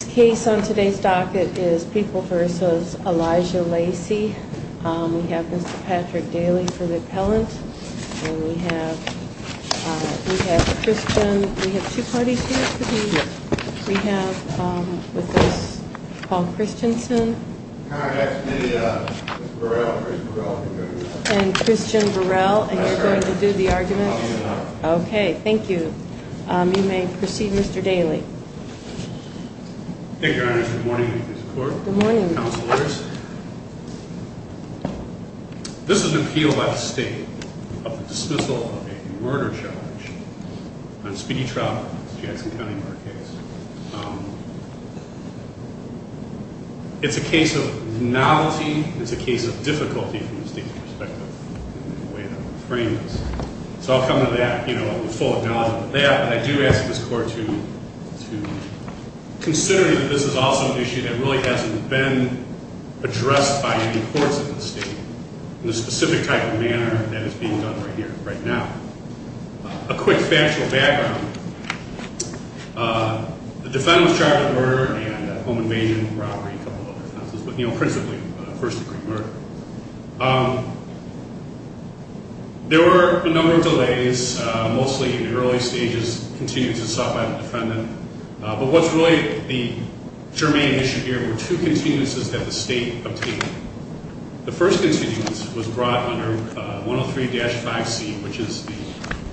The case on today's docket is People v. Elijah Lacy. We have Mr. Patrick Daly for the appellant, and we have Christian Burrell, and you're going to do the arguments? Okay, thank you. You may proceed, Mr. Daly. Thank you, Your Honor. Good morning. I need your support. Good morning. Counselors, this is an appeal by the state of the dismissal of a murder charge on Speedy Trout, Jackson County murder case. It's a case of novelty. It's a case of difficulty from the state's perspective in the way that we're framing this. So I'll come to that with full acknowledgement of that, but I do ask this Court to consider that this is also an issue that really hasn't been addressed by any courts in the state in the specific type of manner that is being done right here, right now. A quick factual background. The defendant was charged with murder and home invasion, robbery, a couple of other offenses, but principally first-degree murder. There were a number of delays, mostly in the early stages, continuances sought by the defendant. But what's really the germane issue here were two continuances that the state obtained. The first continuance was brought under 103-5C, which is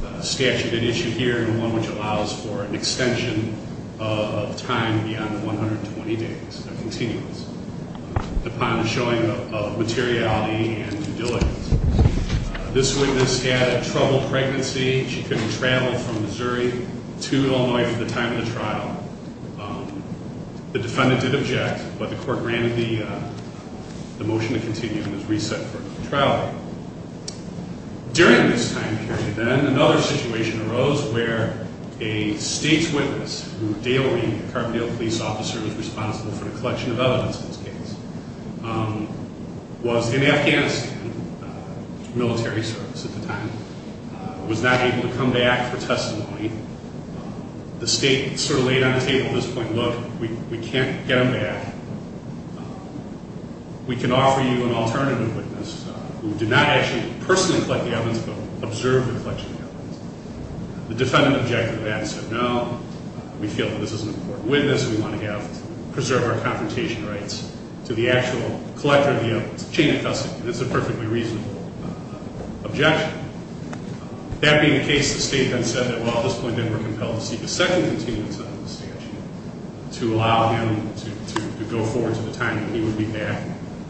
the statute at issue here and one which allows for an extension of time beyond 120 days, a continuance, upon showing of materiality and diligence. This witness had a troubled pregnancy. She couldn't travel from Missouri to Illinois for the time of the trial. The defendant did object, but the Court granted the motion to continue and it was reset for trial. During this time period, then, another situation arose where a state's witness who daily, a Carbondale police officer, was responsible for the collection of evidence in this case, was in Afghanistan, military service at the time, was not able to come back for testimony. The state sort of laid on the table at this point, look, we can't get him back. We can offer you an alternative witness who did not actually personally collect the evidence, but observed the collection of evidence. The defendant objected to that and said, no, we feel that this is an important witness and we want to preserve our confrontation rights to the actual collector of the evidence. It's a chain of custody and it's a perfectly reasonable objection. That being the case, the state then said that, well, at this point, they were compelled to seek a second continuance of the statute to allow him to go forward to the time when he would be back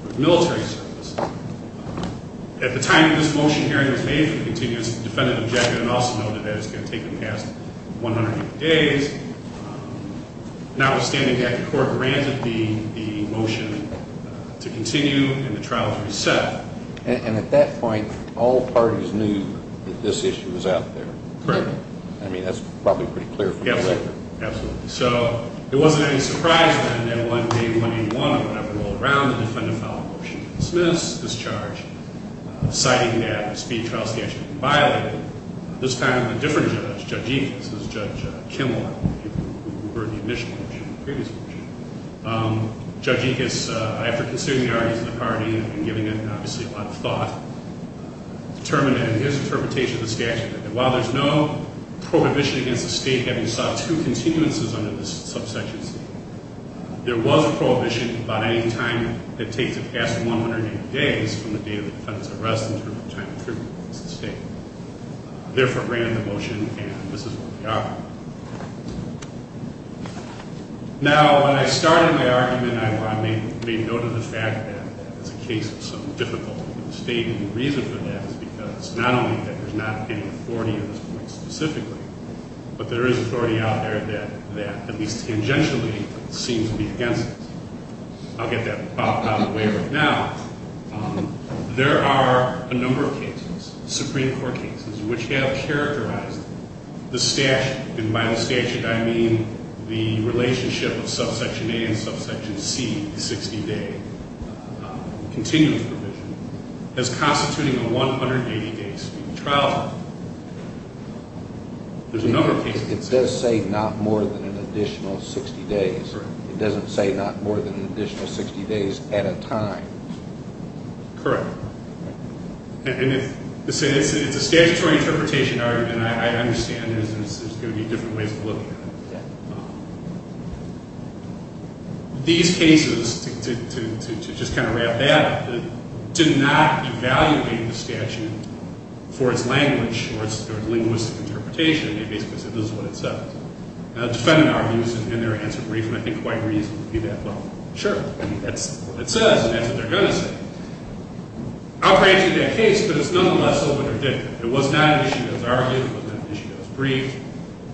for military service. At the time that this motion hearing was made for the continuance, the defendant objected and also noted that it was going to take him past 180 days. Notwithstanding that, the Court granted the motion to continue and the trial was reset. And at that point, all parties knew that this issue was out there. Correct. I mean, that's probably pretty clear from the record. Absolutely. So it wasn't any surprise then that one day in 181, when I rolled around, the defendant filed a motion to dismiss this charge, citing that the speed trial statute had been violated. This time, a different judge, Judge Ickes, this is Judge Kimel, who heard the initial motion, the previous motion. Judge Ickes, after considering the arguments of the party and giving it, obviously, a lot of thought, determined that in his interpretation of the statute, that while there's no prohibition against the state having sought two continuances under this subsection C, there was a prohibition about any time that takes it past 180 days from the date of the defendant's arrest in terms of time of tribute against the state. Therefore, granted the motion, and this is what we are. Now, when I started my argument, I made note of the fact that it's a case that's so difficult for the state. And the reason for that is because not only that there's not any authority at this point specifically, but there is authority out there that, at least tangentially, seems to be against it. I'll get that out of the way right now. There are a number of cases, Supreme Court cases, which have characterized the statute. And by the statute, I mean the relationship of subsection A and subsection C, 60-day continuance provision, as constituting a 180-day trial. There's a number of cases- It does say not more than an additional 60 days. Correct. It doesn't say not more than an additional 60 days at a time. Correct. It's a statutory interpretation argument, and I understand there's going to be different ways of looking at it. Yeah. These cases, to just kind of wrap that up, did not evaluate the statute for its language or its linguistic interpretation. They basically said this is what it says. Now, the defendant argues in their answer brief, and I think quite reasonably that, well, sure, that's what it says, and that's what they're going to say. I'll grant you that case, but it's nonetheless a little bit ridiculous. It was not an issue that was argued. It was not an issue that was briefed.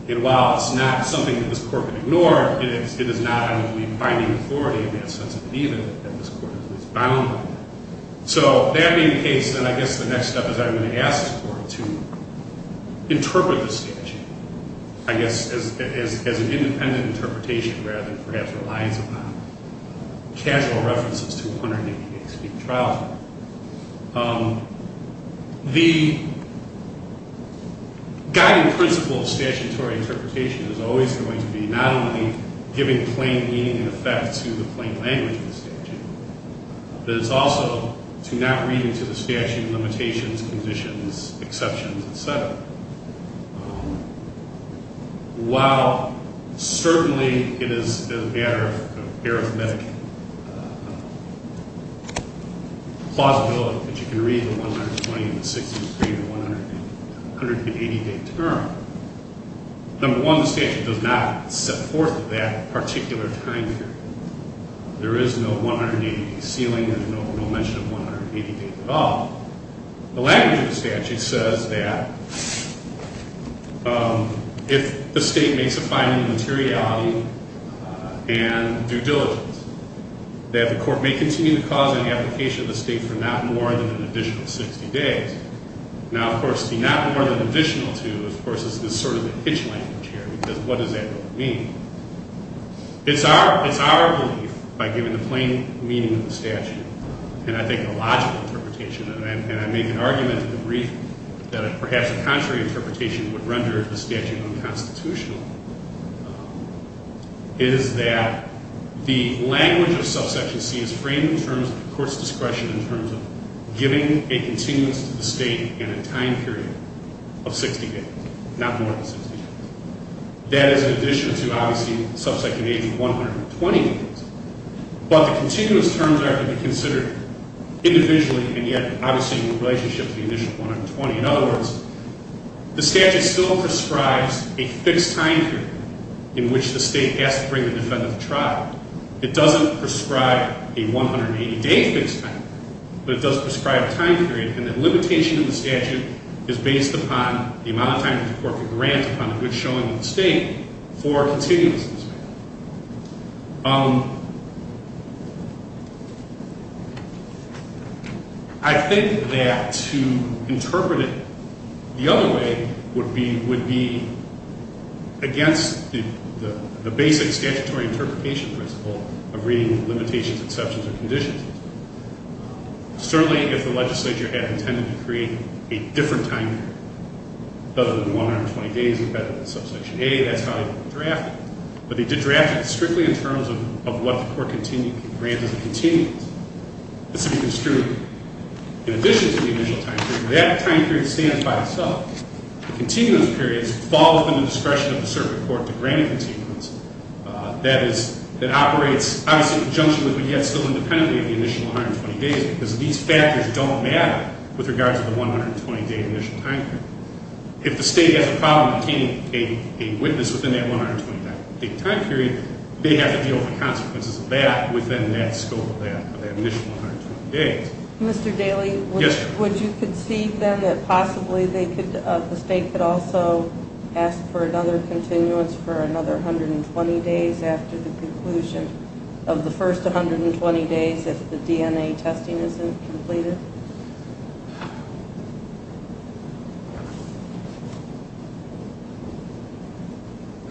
And while it's not something that this Court would ignore, it is not, I don't believe, binding authority in that sense of belief that this Court is bound by. So that being the case, then I guess the next step is I'm going to ask this Court to interpret the statute, I guess as an independent interpretation rather than perhaps reliance upon casual references to 180-day-speak trial. The guiding principle of statutory interpretation is always going to be not only giving plain meaning and effect to the plain language of the statute, but it's also to not read into the statute limitations, conditions, exceptions, et cetera. While certainly it is a matter of arithmetic plausibility that you can read the 120 and the 60-degree and the 180-day term, number one, the statute does not set forth that particular time period. There is no 180-day ceiling. There's no mention of 180 days at all. The language of the statute says that if the State makes a finding of materiality and due diligence, that the Court may continue the cause and application of the State for not more than an additional 60 days. Now, of course, the not more than additional to, of course, is sort of the pitch language here, because what does that really mean? It's our belief, by giving the plain meaning of the statute, and I think a logical interpretation, and I make an argument in the brief that perhaps a contrary interpretation would render the statute unconstitutional, is that the language of subsection C is framed in terms of the Court's discretion in terms of giving a continuance to the State in a time period of 60 days, not more than 60 days. That is in addition to, obviously, subsection A's 120 days. But the continuance terms are to be considered individually, and yet, obviously, in relationship to the initial 120. In other words, the statute still prescribes a fixed time period in which the State has to bring the defendant to trial. It doesn't prescribe a 180-day fixed time period, but it does prescribe a time period, and that limitation of the statute is based upon the amount of time that the Court could grant upon a good showing of the State for continuance of the statute. I think that to interpret it the other way would be against the basic statutory interpretation principle of reading limitations, exceptions, or conditions. Certainly, if the legislature had intended to create a different time period, other than 120 days embedded in subsection A, that's how they would have drafted it. But they did draft it strictly in terms of what the Court granted as a continuance. This would be construed in addition to the initial time period. That time period stands by itself. The continuance period falls within the discretion of the circuit court to grant a continuance. That is, it operates, obviously, in conjunction with, but yet still independently of the initial 120 days, because these factors don't matter with regards to the 120-day initial time period. If the State has a problem obtaining a witness within that 120-day time period, they have to deal with the consequences of that within that scope of that initial 120 days. Mr. Daly? Yes, ma'am. Would you concede, then, that possibly the State could also ask for another continuance for another 120 days after the conclusion of the first 120 days if the DNA testing isn't completed?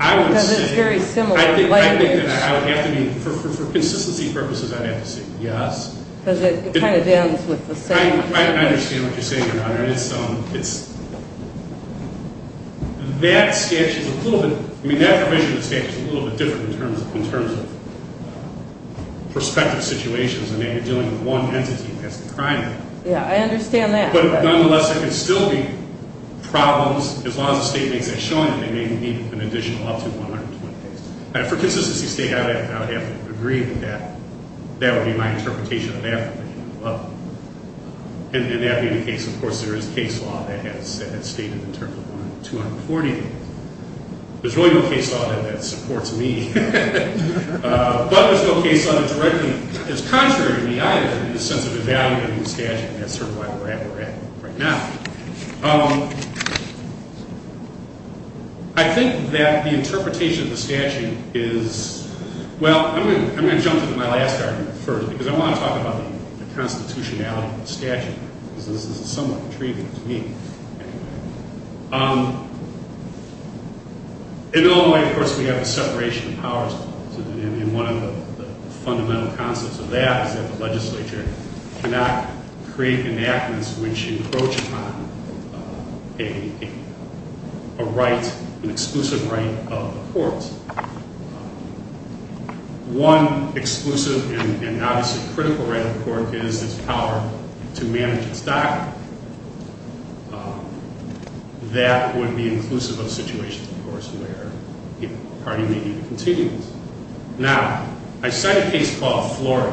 I would say- Because it's very similar language. I think that I would have to be, for consistency purposes, I'd have to say yes. Because it kind of ends with the same- I understand what you're saying, Your Honor. That statute is a little bit, I mean, that provision of the statute is a little bit different in terms of prospective situations, and maybe dealing with one entity that's a crime. Yeah, I understand that. But, nonetheless, there could still be problems as long as the State makes that showing that they may need an additional up to 120 days. For consistency's sake, I would have to agree with that. That would be my interpretation of that. And that being the case, of course, there is case law that has stated in terms of 140 days. There's really no case law that supports me. But there's no case law that directly is contrary to me, either, in the sense of the value of the statute. And that's sort of why we're at where we're at right now. I think that the interpretation of the statute is- Well, I'm going to jump into my last argument first, because I want to talk about the constitutionality of the statute. Because this is somewhat intriguing to me. In Illinois, of course, we have a separation of powers. And one of the fundamental concepts of that is that the legislature cannot create enactments which encroach upon an exclusive right of the court. One exclusive and obviously critical right of the court is its power to manage its docket. That would be inclusive of situations, of course, where the party may need to continue this. Now, I cite a case called Flora.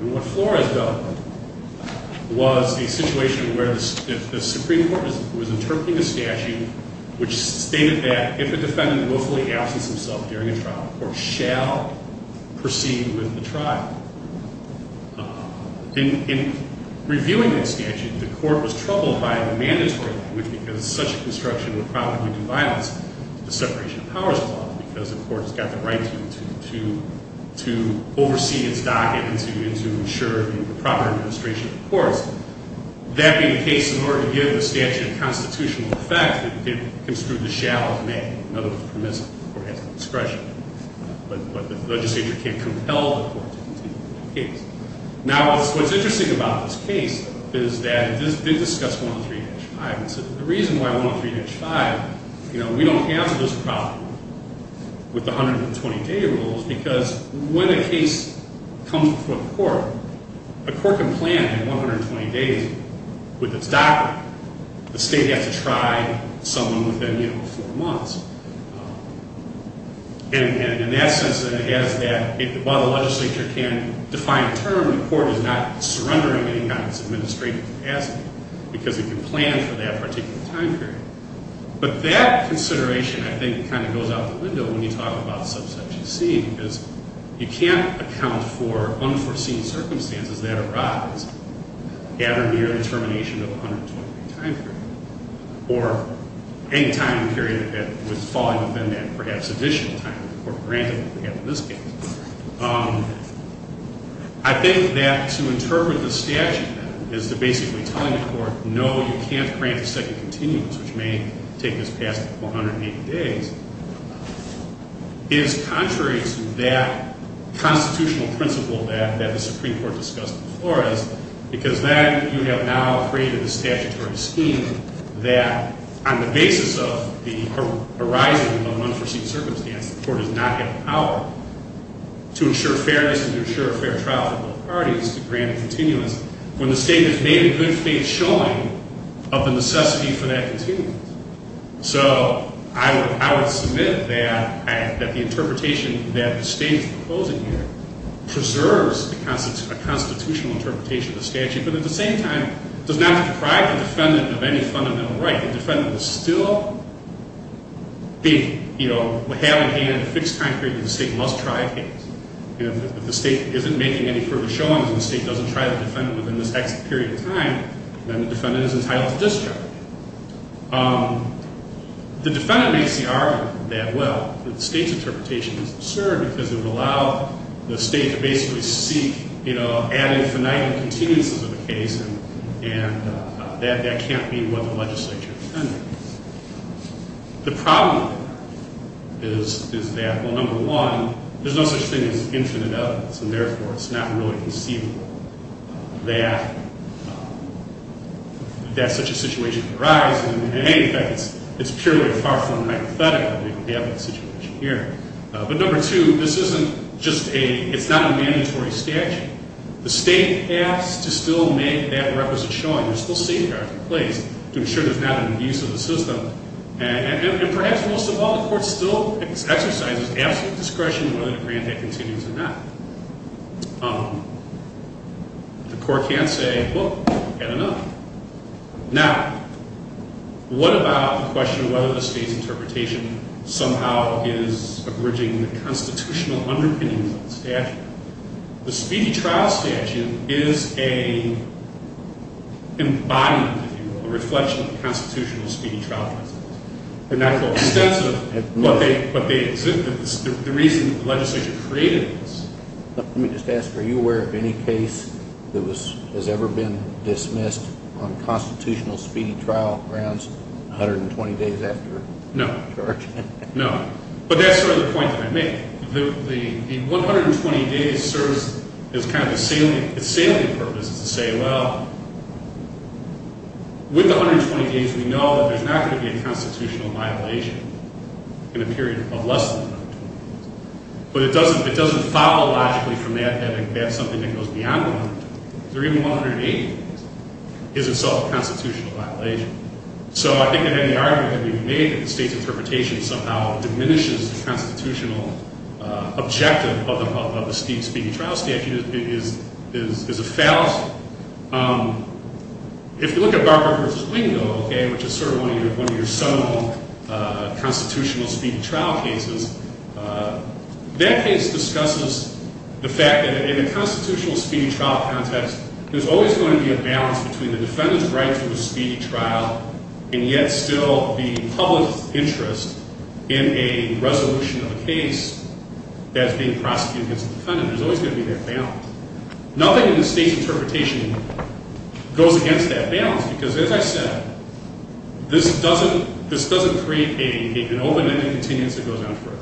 And what Flora has done was a situation where the Supreme Court was interpreting a statute which stated that if a defendant willfully absences himself during a trial, or shall proceed with the trial, in reviewing that statute, the court was troubled by the mandatory, which, because such a construction would probably do violence to the separation of powers law, because the court has got the right to oversee its docket and to ensure the proper administration of the courts. That being the case, in order to give the statute a constitutional effect, it construed the shall as may. In other words, permissible. The court has the discretion. But the legislature can't compel the court to continue that case. Now, what's interesting about this case is that it did discuss 103-5. The reason why 103-5, you know, we don't have this problem with the 120-day rules, because when a case comes before the court, the court can plan in 120 days with its docket. The state has to try someone within, you know, four months. And in that sense, it has that, while the legislature can define a term, the court is not surrendering any kind of administrative capacity, because it can plan for that particular time period. But that consideration, I think, kind of goes out the window when you talk about subsection C, because you can't account for unforeseen circumstances that arise at or near the termination of a 120-day time period, or any time period that would fall within that perhaps additional time that the court granted, like we have in this case. I think that to interpret the statute as to basically telling the court, no, you can't grant a second continuance, which may take this past 180 days, is contrary to that constitutional principle that the Supreme Court discussed before us, because then you have now created a statutory scheme that, on the basis of the arising of an unforeseen circumstance, the court does not have the power to ensure fairness and to ensure a fair trial for both parties, to grant a continuance, when the state has made a good-faith showing of the necessity for that continuance. So I would submit that the interpretation that the state is proposing here does not deprive the defendant of any fundamental right. The defendant is still having a fixed time period that the state must try a case. If the state isn't making any further showings and the state doesn't try the defendant within this period of time, then the defendant is entitled to discharge. The defendant makes the argument that, well, the state's interpretation is absurd, because it would allow the state to basically seek ad infinitum continuances of the case, and that can't be what the legislature intended. The problem is that, well, number one, there's no such thing as infinite evidence, and therefore it's not really conceivable that such a situation could arise, and in any event, it's purely a far-from-hypothetical situation here. But number two, this isn't just a—it's not a mandatory statute. The state has to still make that requisite showing. There's still safeguards in place to ensure there's not an abuse of the system, and perhaps most of all, the court still exercises absolute discretion whether to grant that continuance or not. The court can't say, well, we've had enough. Now, what about the question of whether the state's interpretation somehow is abridging the constitutional underpinnings of the statute? The speedy trial statute is an embodiment, if you will, a reflection of the constitutional speedy trial process. And that's extensive, but the reason the legislature created it is— On constitutional speedy trial grounds, 120 days after charge? No. No. But that's sort of the point that I make. The 120 days serves as kind of a salient purpose, to say, well, with the 120 days, we know that there's not going to be a constitutional violation in a period of less than 120 days. But it doesn't follow logically from that that that's something that goes beyond 120 days. Even 180 days is itself a constitutional violation. So I think that any argument that can be made that the state's interpretation somehow diminishes the constitutional objective of the speedy trial statute is a fallacy. If you look at Barber v. Wingo, which is sort of one of your seminal constitutional speedy trial cases, that case discusses the fact that in a constitutional speedy trial context, there's always going to be a balance between the defendant's right to the speedy trial and yet still the public's interest in a resolution of a case that's being prosecuted against the defendant. There's always going to be that balance. Nothing in the state's interpretation goes against that balance because, as I said, this doesn't create an open-ended continence that goes on forever.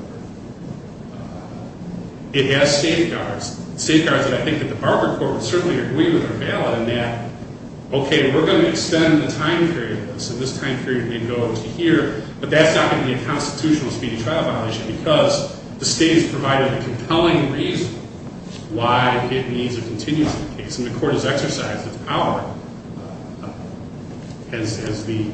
It has safeguards. Safeguards that I think that the Barber court would certainly agree with are valid in that, okay, we're going to extend the time period of this, and this time period may go to here, but that's not going to be a constitutional speedy trial violation because the state has provided a compelling reason why it needs a continence in the case. And the court has exercised its power as the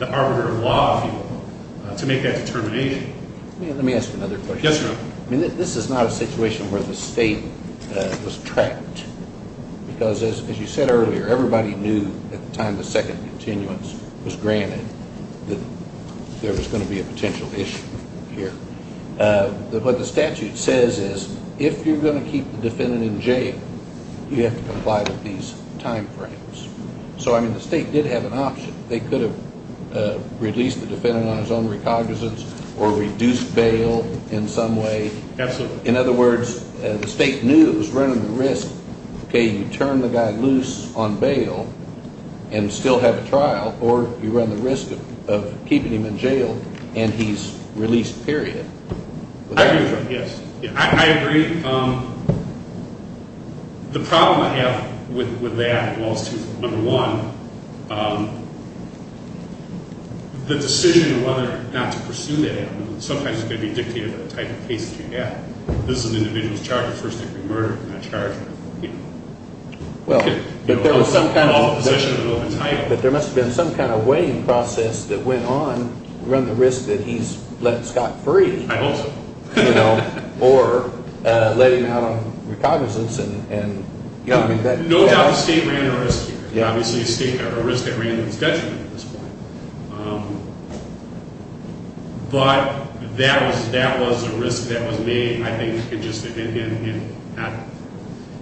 arbiter of law, if you will, to make that determination. Let me ask another question. Yes, Your Honor. This is not a situation where the state was trapped because, as you said earlier, everybody knew at the time the second continuance was granted that there was going to be a potential issue here. What the statute says is if you're going to keep the defendant in jail, you have to comply with these time frames. So, I mean, the state did have an option. They could have released the defendant on his own recognizance or reduced bail in some way. Absolutely. In other words, the state knew it was running the risk, okay, you turn the guy loose on bail and still have a trial, or you run the risk of keeping him in jail and he's released, period. I agree with that, yes. I agree. The problem I have with that, well, number one, the decision whether or not to pursue that, sometimes it's going to be dictated by the type of case that you have. This is an individual who's charged with first-degree murder, not charged with, you know, But there must have been some kind of weighing process that went on to run the risk that he's left Scott free. I hope so. You know, or let him out on recognizance. No doubt the state ran a risk here. Obviously, a risk that ran in his detriment at this point. But that was a risk that was made, I think.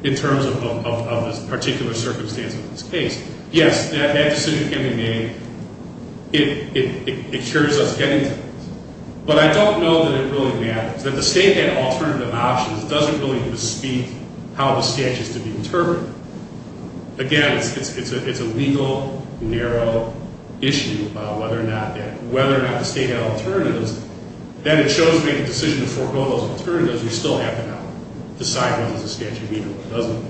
In terms of the particular circumstance of this case. Yes, that decision can be made. It cures us any time. But I don't know that it really matters. That the state had alternative options doesn't really bespeak how the statute is to be interpreted. Again, it's a legal, narrow issue about whether or not the state had alternatives. Then it shows me the decision to forego those alternatives. We still have to now decide what does the statute mean and what doesn't.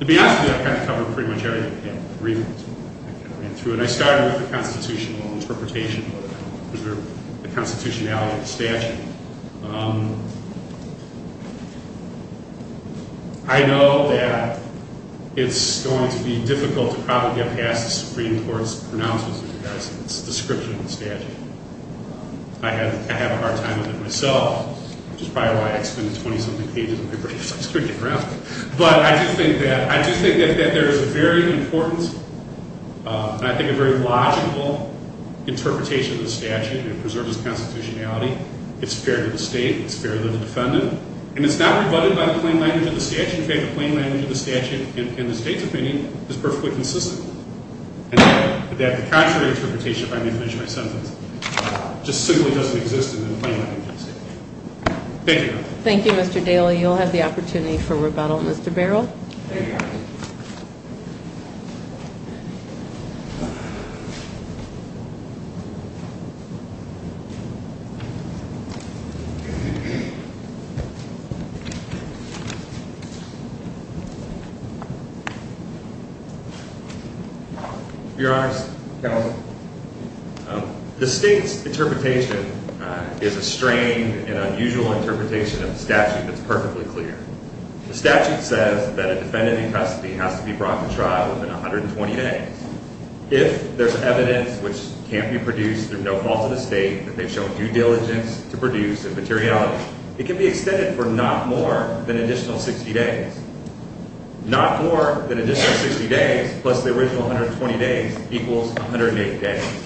To be honest with you, I've kind of covered pretty much everything. I ran through it. When I started with the constitutional interpretation, the constitutionality of the statute, I know that it's going to be difficult to probably get past the Supreme Court's pronouncements of the statute. I have a hard time with it myself. Which is probably why I extended 20-something pages of paper as I was turning it around. But I do think that there is a very important and I think a very logical interpretation of the statute in preserving its constitutionality. It's fair to the state. It's fair to the defendant. And it's not rebutted by the plain language of the statute. In fact, the plain language of the statute in the state's opinion is perfectly consistent. And that the contrary interpretation, if I may finish my sentence, just simply doesn't exist in the plain language of the statute. Thank you. Thank you, Mr. Daly. You'll have the opportunity for rebuttal. Mr. Beryl. Thank you, Your Honor. Your Honors, the state's interpretation is a strange and unusual interpretation of the statute that's perfectly clear. The statute says that a defendant in custody has to be brought to trial within 120 days. If there's evidence which can't be produced through no fault of the state that they've shown due diligence to produce in materiality, it can be extended for not more than an additional 60 days. Not more than an additional 60 days plus the original 120 days equals 108 days.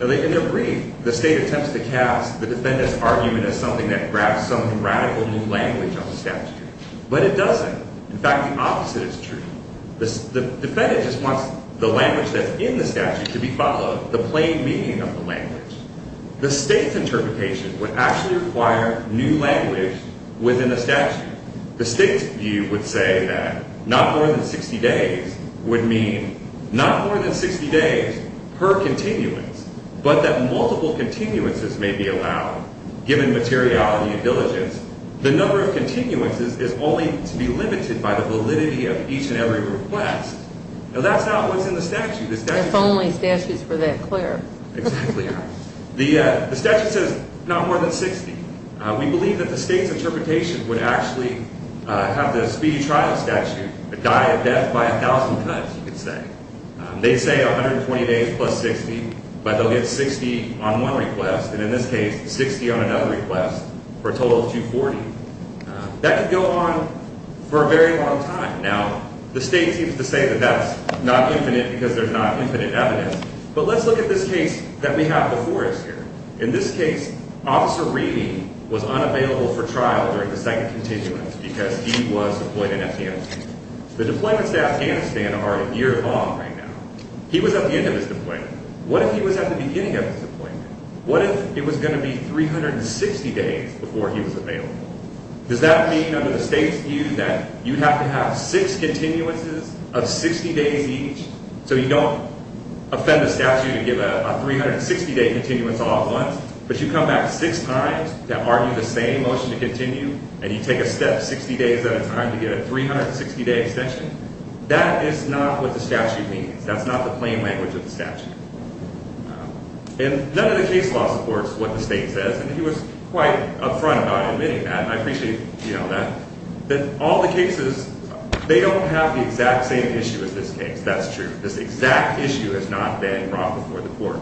In their brief, the state attempts to cast the defendant's argument as something that grabs some radical new language on the statute. But it doesn't. In fact, the opposite is true. The defendant just wants the language that's in the statute to be followed, the plain meaning of the language. The state's interpretation would actually require new language within the statute. The state's view would say that not more than 60 days would mean not more than 60 days per continuance, but that multiple continuances may be allowed given materiality and diligence. The number of continuances is only to be limited by the validity of each and every request. Now, that's not what's in the statute. If only statutes were that clear. Exactly. The statute says not more than 60. We believe that the state's interpretation would actually have the speedy trial statute die a death by a thousand cuts, you could say. They say 120 days plus 60, but they'll get 60 on one request, and in this case, 60 on another request for a total of 240. That could go on for a very long time. Now, the state seems to say that that's not infinite because there's not infinite evidence. But let's look at this case that we have before us here. In this case, Officer Reedy was unavailable for trial during the second continuance because he was deployed in Afghanistan. The deployments to Afghanistan are a year long right now. He was at the end of his deployment. What if he was at the beginning of his deployment? What if it was going to be 360 days before he was available? Does that mean under the state's view that you have to have six continuances of 60 days each so you don't offend the statute and give a 360-day continuance all at once, but you come back six times to argue the same motion to continue, and you take a step 60 days at a time to get a 360-day extension? That is not what the statute means. That's not the plain language of the statute. And none of the case law supports what the state says, and he was quite upfront about admitting that, and I appreciate that. But all the cases, they don't have the exact same issue as this case. That's true. This exact issue has not been brought before the court.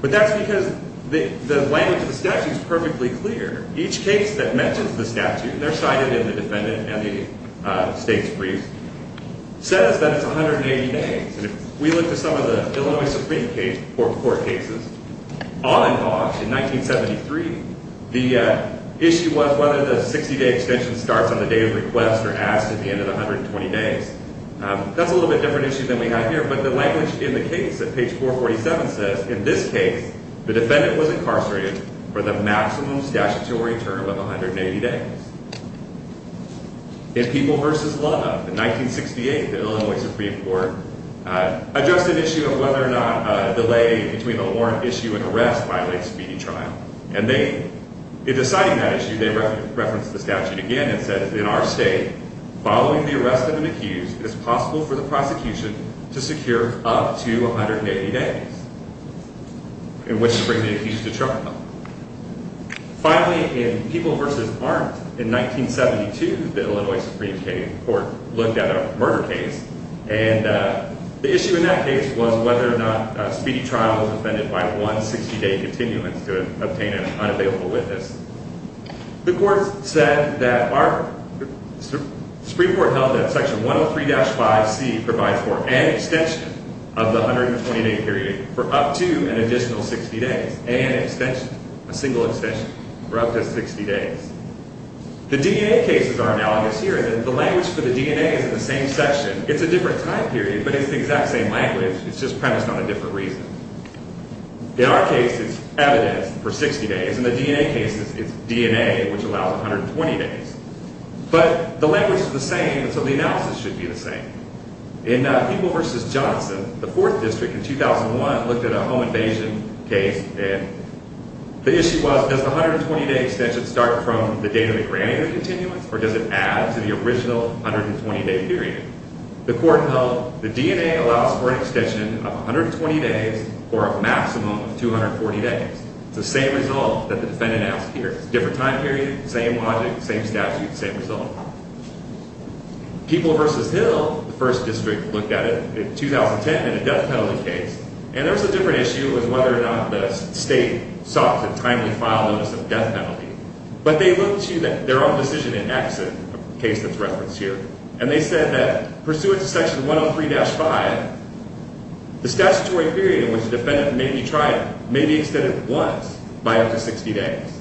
But that's because the language of the statute is perfectly clear. Each case that mentions the statute, and they're cited in the defendant and the state's briefs, says that it's 180 days. And if we look at some of the Illinois Supreme Court cases, all in all, in 1973, the issue was whether the 60-day extension starts on the day of request or asked at the end of the 120 days. That's a little bit different issue than we have here, but the language in the case at page 447 says, in this case, the defendant was incarcerated for the maximum statutory term of 180 days. In People v. Love, in 1968, the Illinois Supreme Court addressed an issue of whether or not a delay between a warrant issue and arrest violates speedy trial. And they, in deciding that issue, they referenced the statute again and said, in our state, following the arrest of an accused, it is possible for the prosecution to secure up to 180 days, in which to bring the accused to trial. Finally, in People v. Arms, in 1972, the Illinois Supreme Court looked at a murder case, and the issue in that case was whether or not a speedy trial was offended by one 60-day continuance to obtain an unavailable witness. The court said that our Supreme Court held that Section 103-5C provides for an extension of the 120-day period for up to an additional 60 days, an extension, a single extension, for up to 60 days. The DNA cases are analogous here in that the language for the DNA is in the same section. It's a different time period, but it's the exact same language. It's just premised on a different reason. In our case, it's evidence for 60 days. In the DNA cases, it's DNA, which allows 120 days. But the language is the same, and so the analysis should be the same. In People v. Johnson, the 4th District in 2001 looked at a home invasion case, and the issue was, does the 120-day extension start from the date of the granting of the continuance, or does it add to the original 120-day period? The court held the DNA allows for an extension of 120 days for a maximum of 240 days. It's the same result that the defendant asked here. It's a different time period, same logic, same statute, same result. People v. Hill, the 1st District, looked at it in 2010 in a death penalty case, and there was a different issue. It was whether or not the state sought to timely file notice of death penalty. But they looked to their own decision in Exit, a case that's referenced here, and they said that pursuant to Section 103-5, the statutory period in which the defendant may be tried may be extended once by up to 60 days.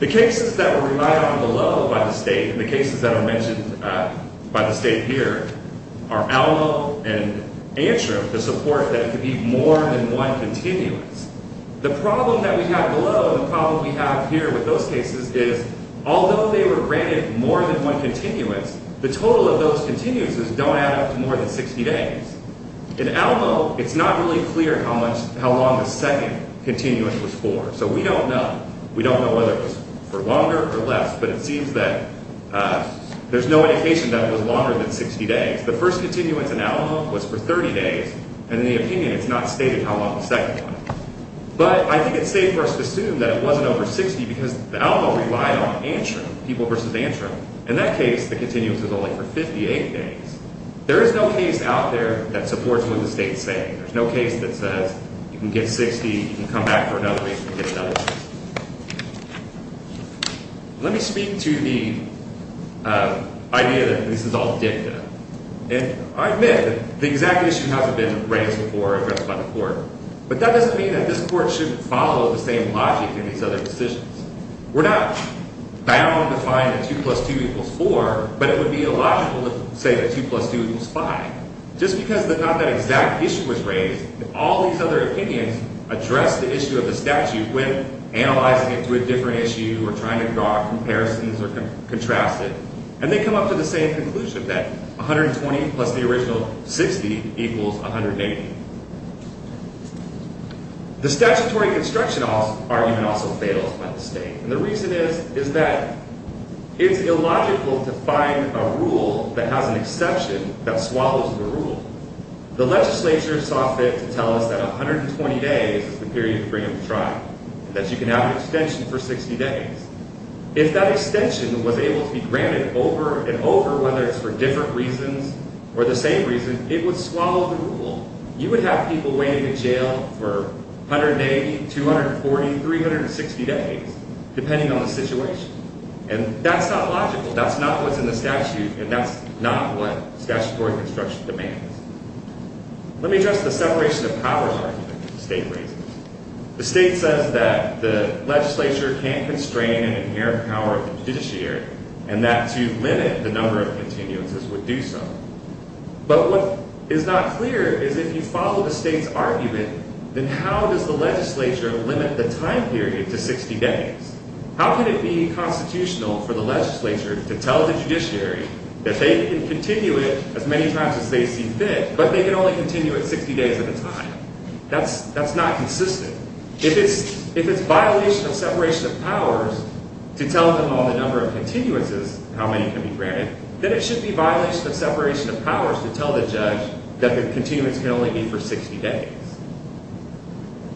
The cases that were relied on below by the state, and the cases that are mentioned by the state here, are Alamo and Antrim, the support that it could be more than one continuance. The problem that we have below, the problem we have here with those cases, is although they were granted more than one continuance, the total of those continuances don't add up to more than 60 days. In Alamo, it's not really clear how long the second continuance was for, so we don't know. We don't know whether it was for longer or less, but it seems that there's no indication that it was longer than 60 days. The first continuance in Alamo was for 30 days, and in the opinion, it's not stated how long the second one was. But I think it's safe for us to assume that it wasn't over 60, because Alamo relied on Antrim, People v. Antrim. In that case, the continuance was only for 58 days. There is no case out there that supports what the state is saying. There's no case that says you can get 60, you can come back for another 80, you can get another 60. Let me speak to the idea that this is all dicta. And I admit that the exact issue hasn't been raised before or addressed by the court, but that doesn't mean that this court shouldn't follow the same logic in these other decisions. We're not bound to find that 2 plus 2 equals 4, but it would be illogical to say that 2 plus 2 equals 5, just because not that exact issue was raised. All these other opinions address the issue of the statute when analyzing it to a different issue or trying to draw comparisons or contrast it. And they come up to the same conclusion, that 120 plus the original 60 equals 180. The statutory construction argument also fails by the state. And the reason is, is that it's illogical to find a rule that has an exception that swallows the rule. The legislature saw fit to tell us that 120 days is the period to bring up the trial, that you can have an extension for 60 days. If that extension was able to be granted over and over, whether it's for different reasons or the same reason, it would swallow the rule. You would have people waiting in jail for 180, 240, 360 days, depending on the situation. And that's not logical. That's not what's in the statute, and that's not what statutory construction demands. Let me address the separation of powers argument that the state raises. The state says that the legislature can't constrain an inherent power of the judiciary, and that to limit the number of continuances would do so. But what is not clear is if you follow the state's argument, then how does the legislature limit the time period to 60 days? How can it be constitutional for the legislature to tell the judiciary that they can continue it as many times as they see fit, but they can only continue it 60 days at a time? That's not consistent. If it's violation of separation of powers to tell them on the number of continuances how many can be granted, then it should be violation of separation of powers to tell the judge that the continuance can only be for 60 days.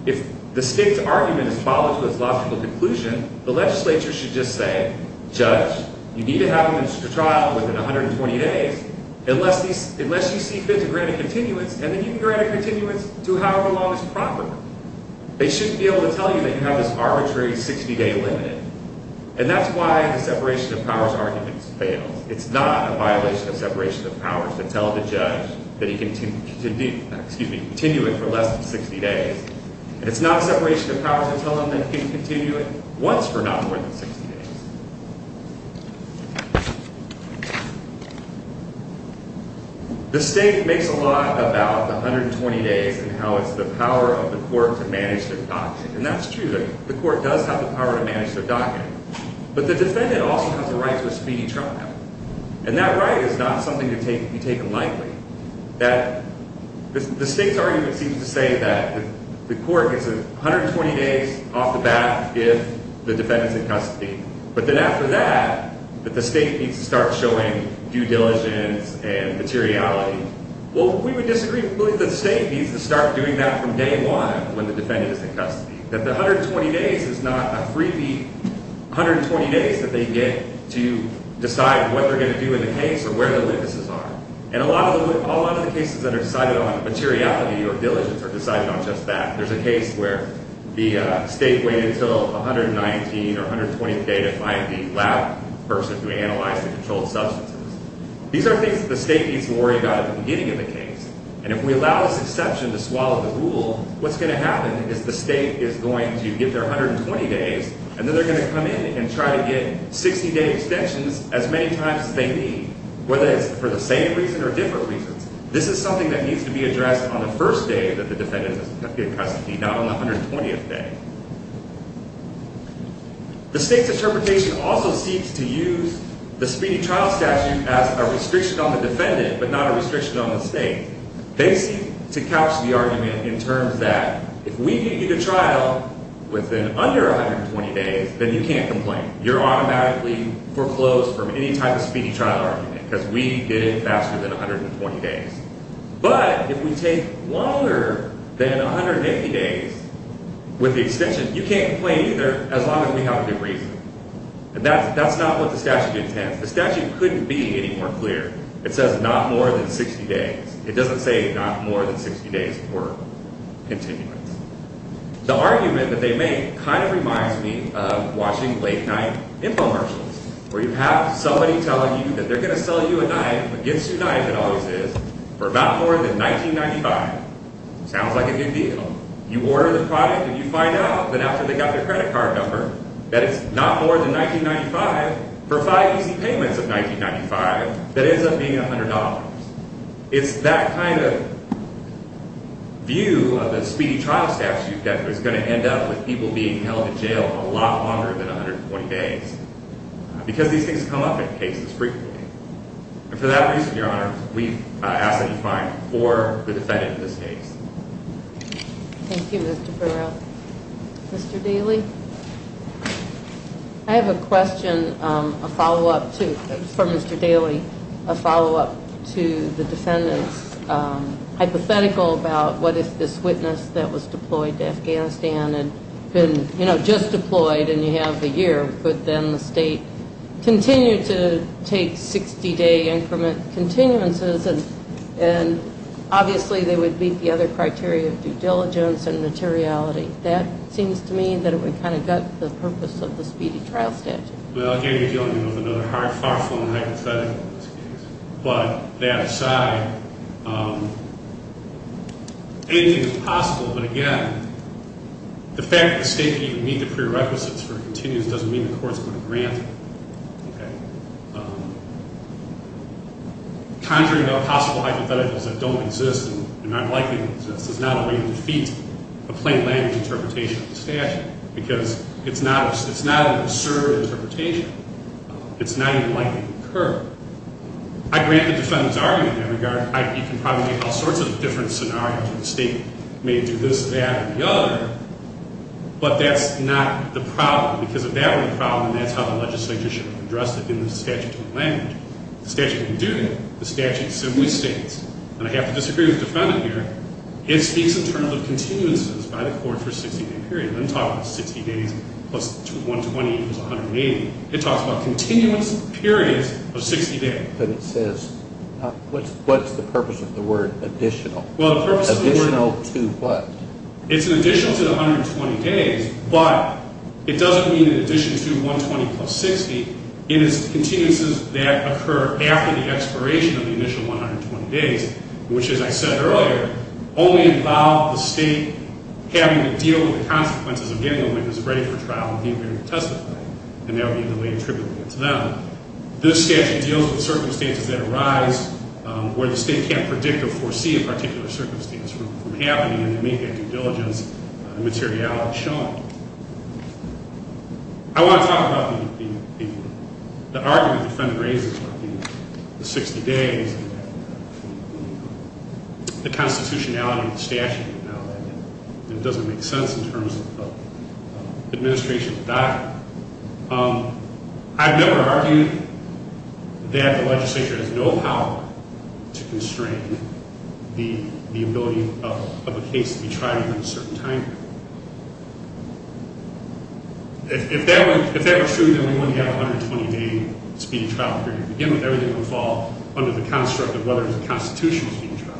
If the state's argument is followed to its logical conclusion, the legislature should just say, Judge, you need to have a trial within 120 days unless you see fit to grant a continuance, and then you can grant a continuance to however long is proper. They shouldn't be able to tell you that you have this arbitrary 60-day limit. And that's why the separation of powers argument fails. It's not a violation of separation of powers to tell the judge that he can continue it for less than 60 days. And it's not separation of powers to tell him that he can continue it once for not more than 60 days. The state makes a lot about the 120 days and how it's the power of the court to manage their doctrine. And that's true. The court does have the power to manage their doctrine. But the defendant also has the right to a speedy trial. And that right is not something to be taken lightly. The state's argument seems to say that the court is 120 days off the bat if the defendant is in custody. But then after that, that the state needs to start showing due diligence and materiality. Well, we would disagree. We believe that the state needs to start doing that from day one when the defendant is in custody. That the 120 days is not a freebie 120 days that they get to decide what they're going to do in the case or where the witnesses are. And a lot of the cases that are decided on materiality or diligence are decided on just that. There's a case where the state waited until 119th or 120th day to find the loud person who analyzed the controlled substances. These are things that the state needs to worry about at the beginning of the case. And if we allow this exception to swallow the rule, what's going to happen is the state is going to give their 120 days and then they're going to come in and try to get 60 day extensions as many times as they need, whether it's for the same reason or different reasons. This is something that needs to be addressed on the first day that the defendant is in custody, not on the 120th day. The state's interpretation also seeks to use the speedy trial statute as a restriction on the defendant, but not a restriction on the state. They seek to couch the argument in terms that if we get you to trial within under 120 days, then you can't complain. You're automatically foreclosed from any type of speedy trial argument because we did it faster than 120 days. But if we take longer than 180 days with the extension, you can't complain either as long as we have a good reason. And that's not what the statute intends. The statute couldn't be any more clear. It says not more than 60 days. It doesn't say not more than 60 days for continuance. The argument that they make kind of reminds me of watching late night infomercials where you have somebody telling you that they're going to sell you a knife, against your knife it always is, for about more than $19.95. Sounds like a good deal. You order the product and you find out that after they got their credit card number, that it's not more than $19.95 for five easy payments of $19.95 that ends up being $100. It's that kind of view of the speedy trial statute that is going to end up with people being held in jail a lot longer than 120 days. Because these things come up in cases frequently. And for that reason, Your Honor, we ask that you find four who defended this case. Thank you, Mr. Burrell. Mr. Daly? I have a question, a follow-up to, for Mr. Daly, a follow-up to the defendant's hypothetical about what if this witness that was deployed to Afghanistan had been, you know, just deployed and you have the year, but then the state continued to take 60-day increment continuances and obviously they would meet the other criteria of due diligence and materiality. That seems to me that it would kind of gut the purpose of the speedy trial statute. Well, again, you're dealing with another far-flung hypothetical in this case. But that aside, anything is possible. But, again, the fact that the state can even meet the prerequisites for continuance doesn't mean the court is going to grant it. Okay? Conjuring up possible hypotheticals that don't exist and are not likely to exist is not a way to defeat a plain language interpretation of the statute because it's not an absurd interpretation. It's not even likely to occur. I grant the defendant's argument in that regard. You can probably have all sorts of different scenarios where the state may do this, that, or the other, but that's not the problem because if that were the problem, that's how the legislature should have addressed it in the statutory language. The statute can do that. The statute simply states, and I have to disagree with the defendant here, it speaks in terms of continuances by the court for a 60-day period. I'm talking 60 days plus 120 is 180. It talks about continuance periods of 60 days. But it says, what's the purpose of the word additional? Additional to what? It's an additional to the 120 days, but it doesn't mean an addition to 120 plus 60. It is continuances that occur after the expiration of the initial 120 days, which, as I said earlier, only involve the state having to deal with the consequences of getting a witness ready for trial and being ready to testify, and that would be a delay attributable to them. This statute deals with circumstances that arise where the state can't predict or foresee a particular circumstance from happening and to make that due diligence materiality shown. I want to talk about the argument the defendant raises about the 60 days and the constitutionality of the statute. It doesn't make sense in terms of the administration of the document. I've never argued that the legislature has no power to constrain the ability of a case to be tried within a certain time period. If that were true, then we wouldn't have a 120-day speeding trial period. Again, everything would fall under the construct of whether there's a constitutional speeding trial.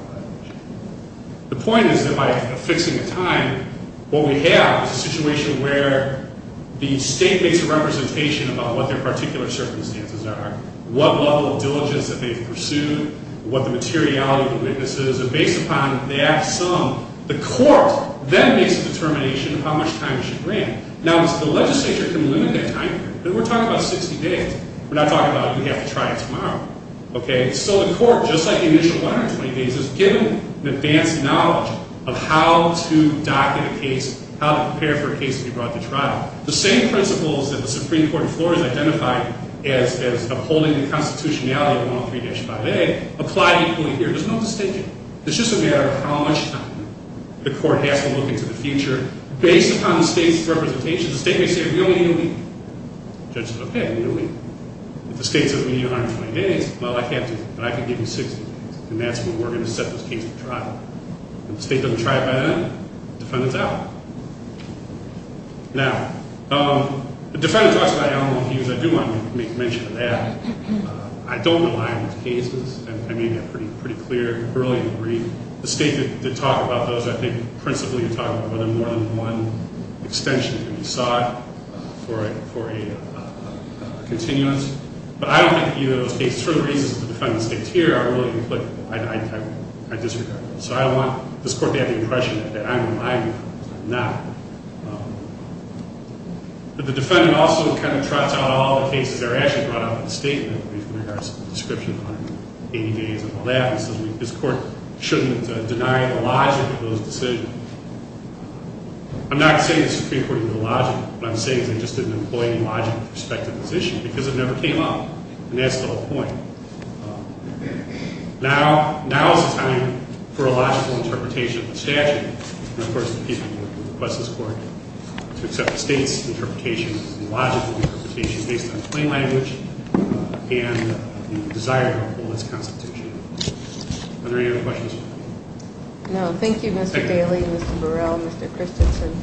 The point is that by fixing the time, what we have is a situation where the state makes a representation about what their particular circumstances are, what level of diligence that they've pursued, what the materiality of the witness is, and based upon that sum, the court then makes a determination of how much time they should grant. Now, the legislature can limit that time period, but we're talking about 60 days. We're not talking about you have to try it tomorrow. So the court, just like the initial 120 days, is given an advanced knowledge of how to docket a case, how to prepare for a case to be brought to trial. The same principles that the Supreme Court in Florida has identified as upholding the constitutionality of 103-5A apply equally here. There's no distinction. It's just a matter of how much time the court has to look into the future. Based upon the state's representation, the state may say, we only need a week. The judge says, okay, we need a week. If the state says we need 120 days, well, I can't do that. I can give you 60 days, and that's when we're going to set this case to trial. If the state doesn't try it by then, the defendant's out. Now, the defendant talks about animal abuse. I do want to make mention of that. I don't rely on these cases. I made that pretty clear early in the brief. The state did talk about those. I think principally it talked about whether more than one extension can be sought for a continuance. But I don't think either of those cases, for the reasons the defendant states here, are really implicable. I disagree. So I don't want this court to have the impression that I'm relying on them. I'm not. But the defendant also kind of trots out all the cases that are actually brought up in the statement, in regards to the description of 180 days and all that. He says this court shouldn't deny the logic of those decisions. I'm not saying the Supreme Court knew the logic. What I'm saying is they just didn't employ any logic with respect to this issue because it never came up. And that's the whole point. Now is the time for a logical interpretation of the statute. And, of course, the people who request this court to accept the state's interpretation, logical interpretation based on plain language and the desire to uphold its constitution. Are there any other questions? No. Thank you, Mr. Daly, Mr. Burrell, Mr. Christensen.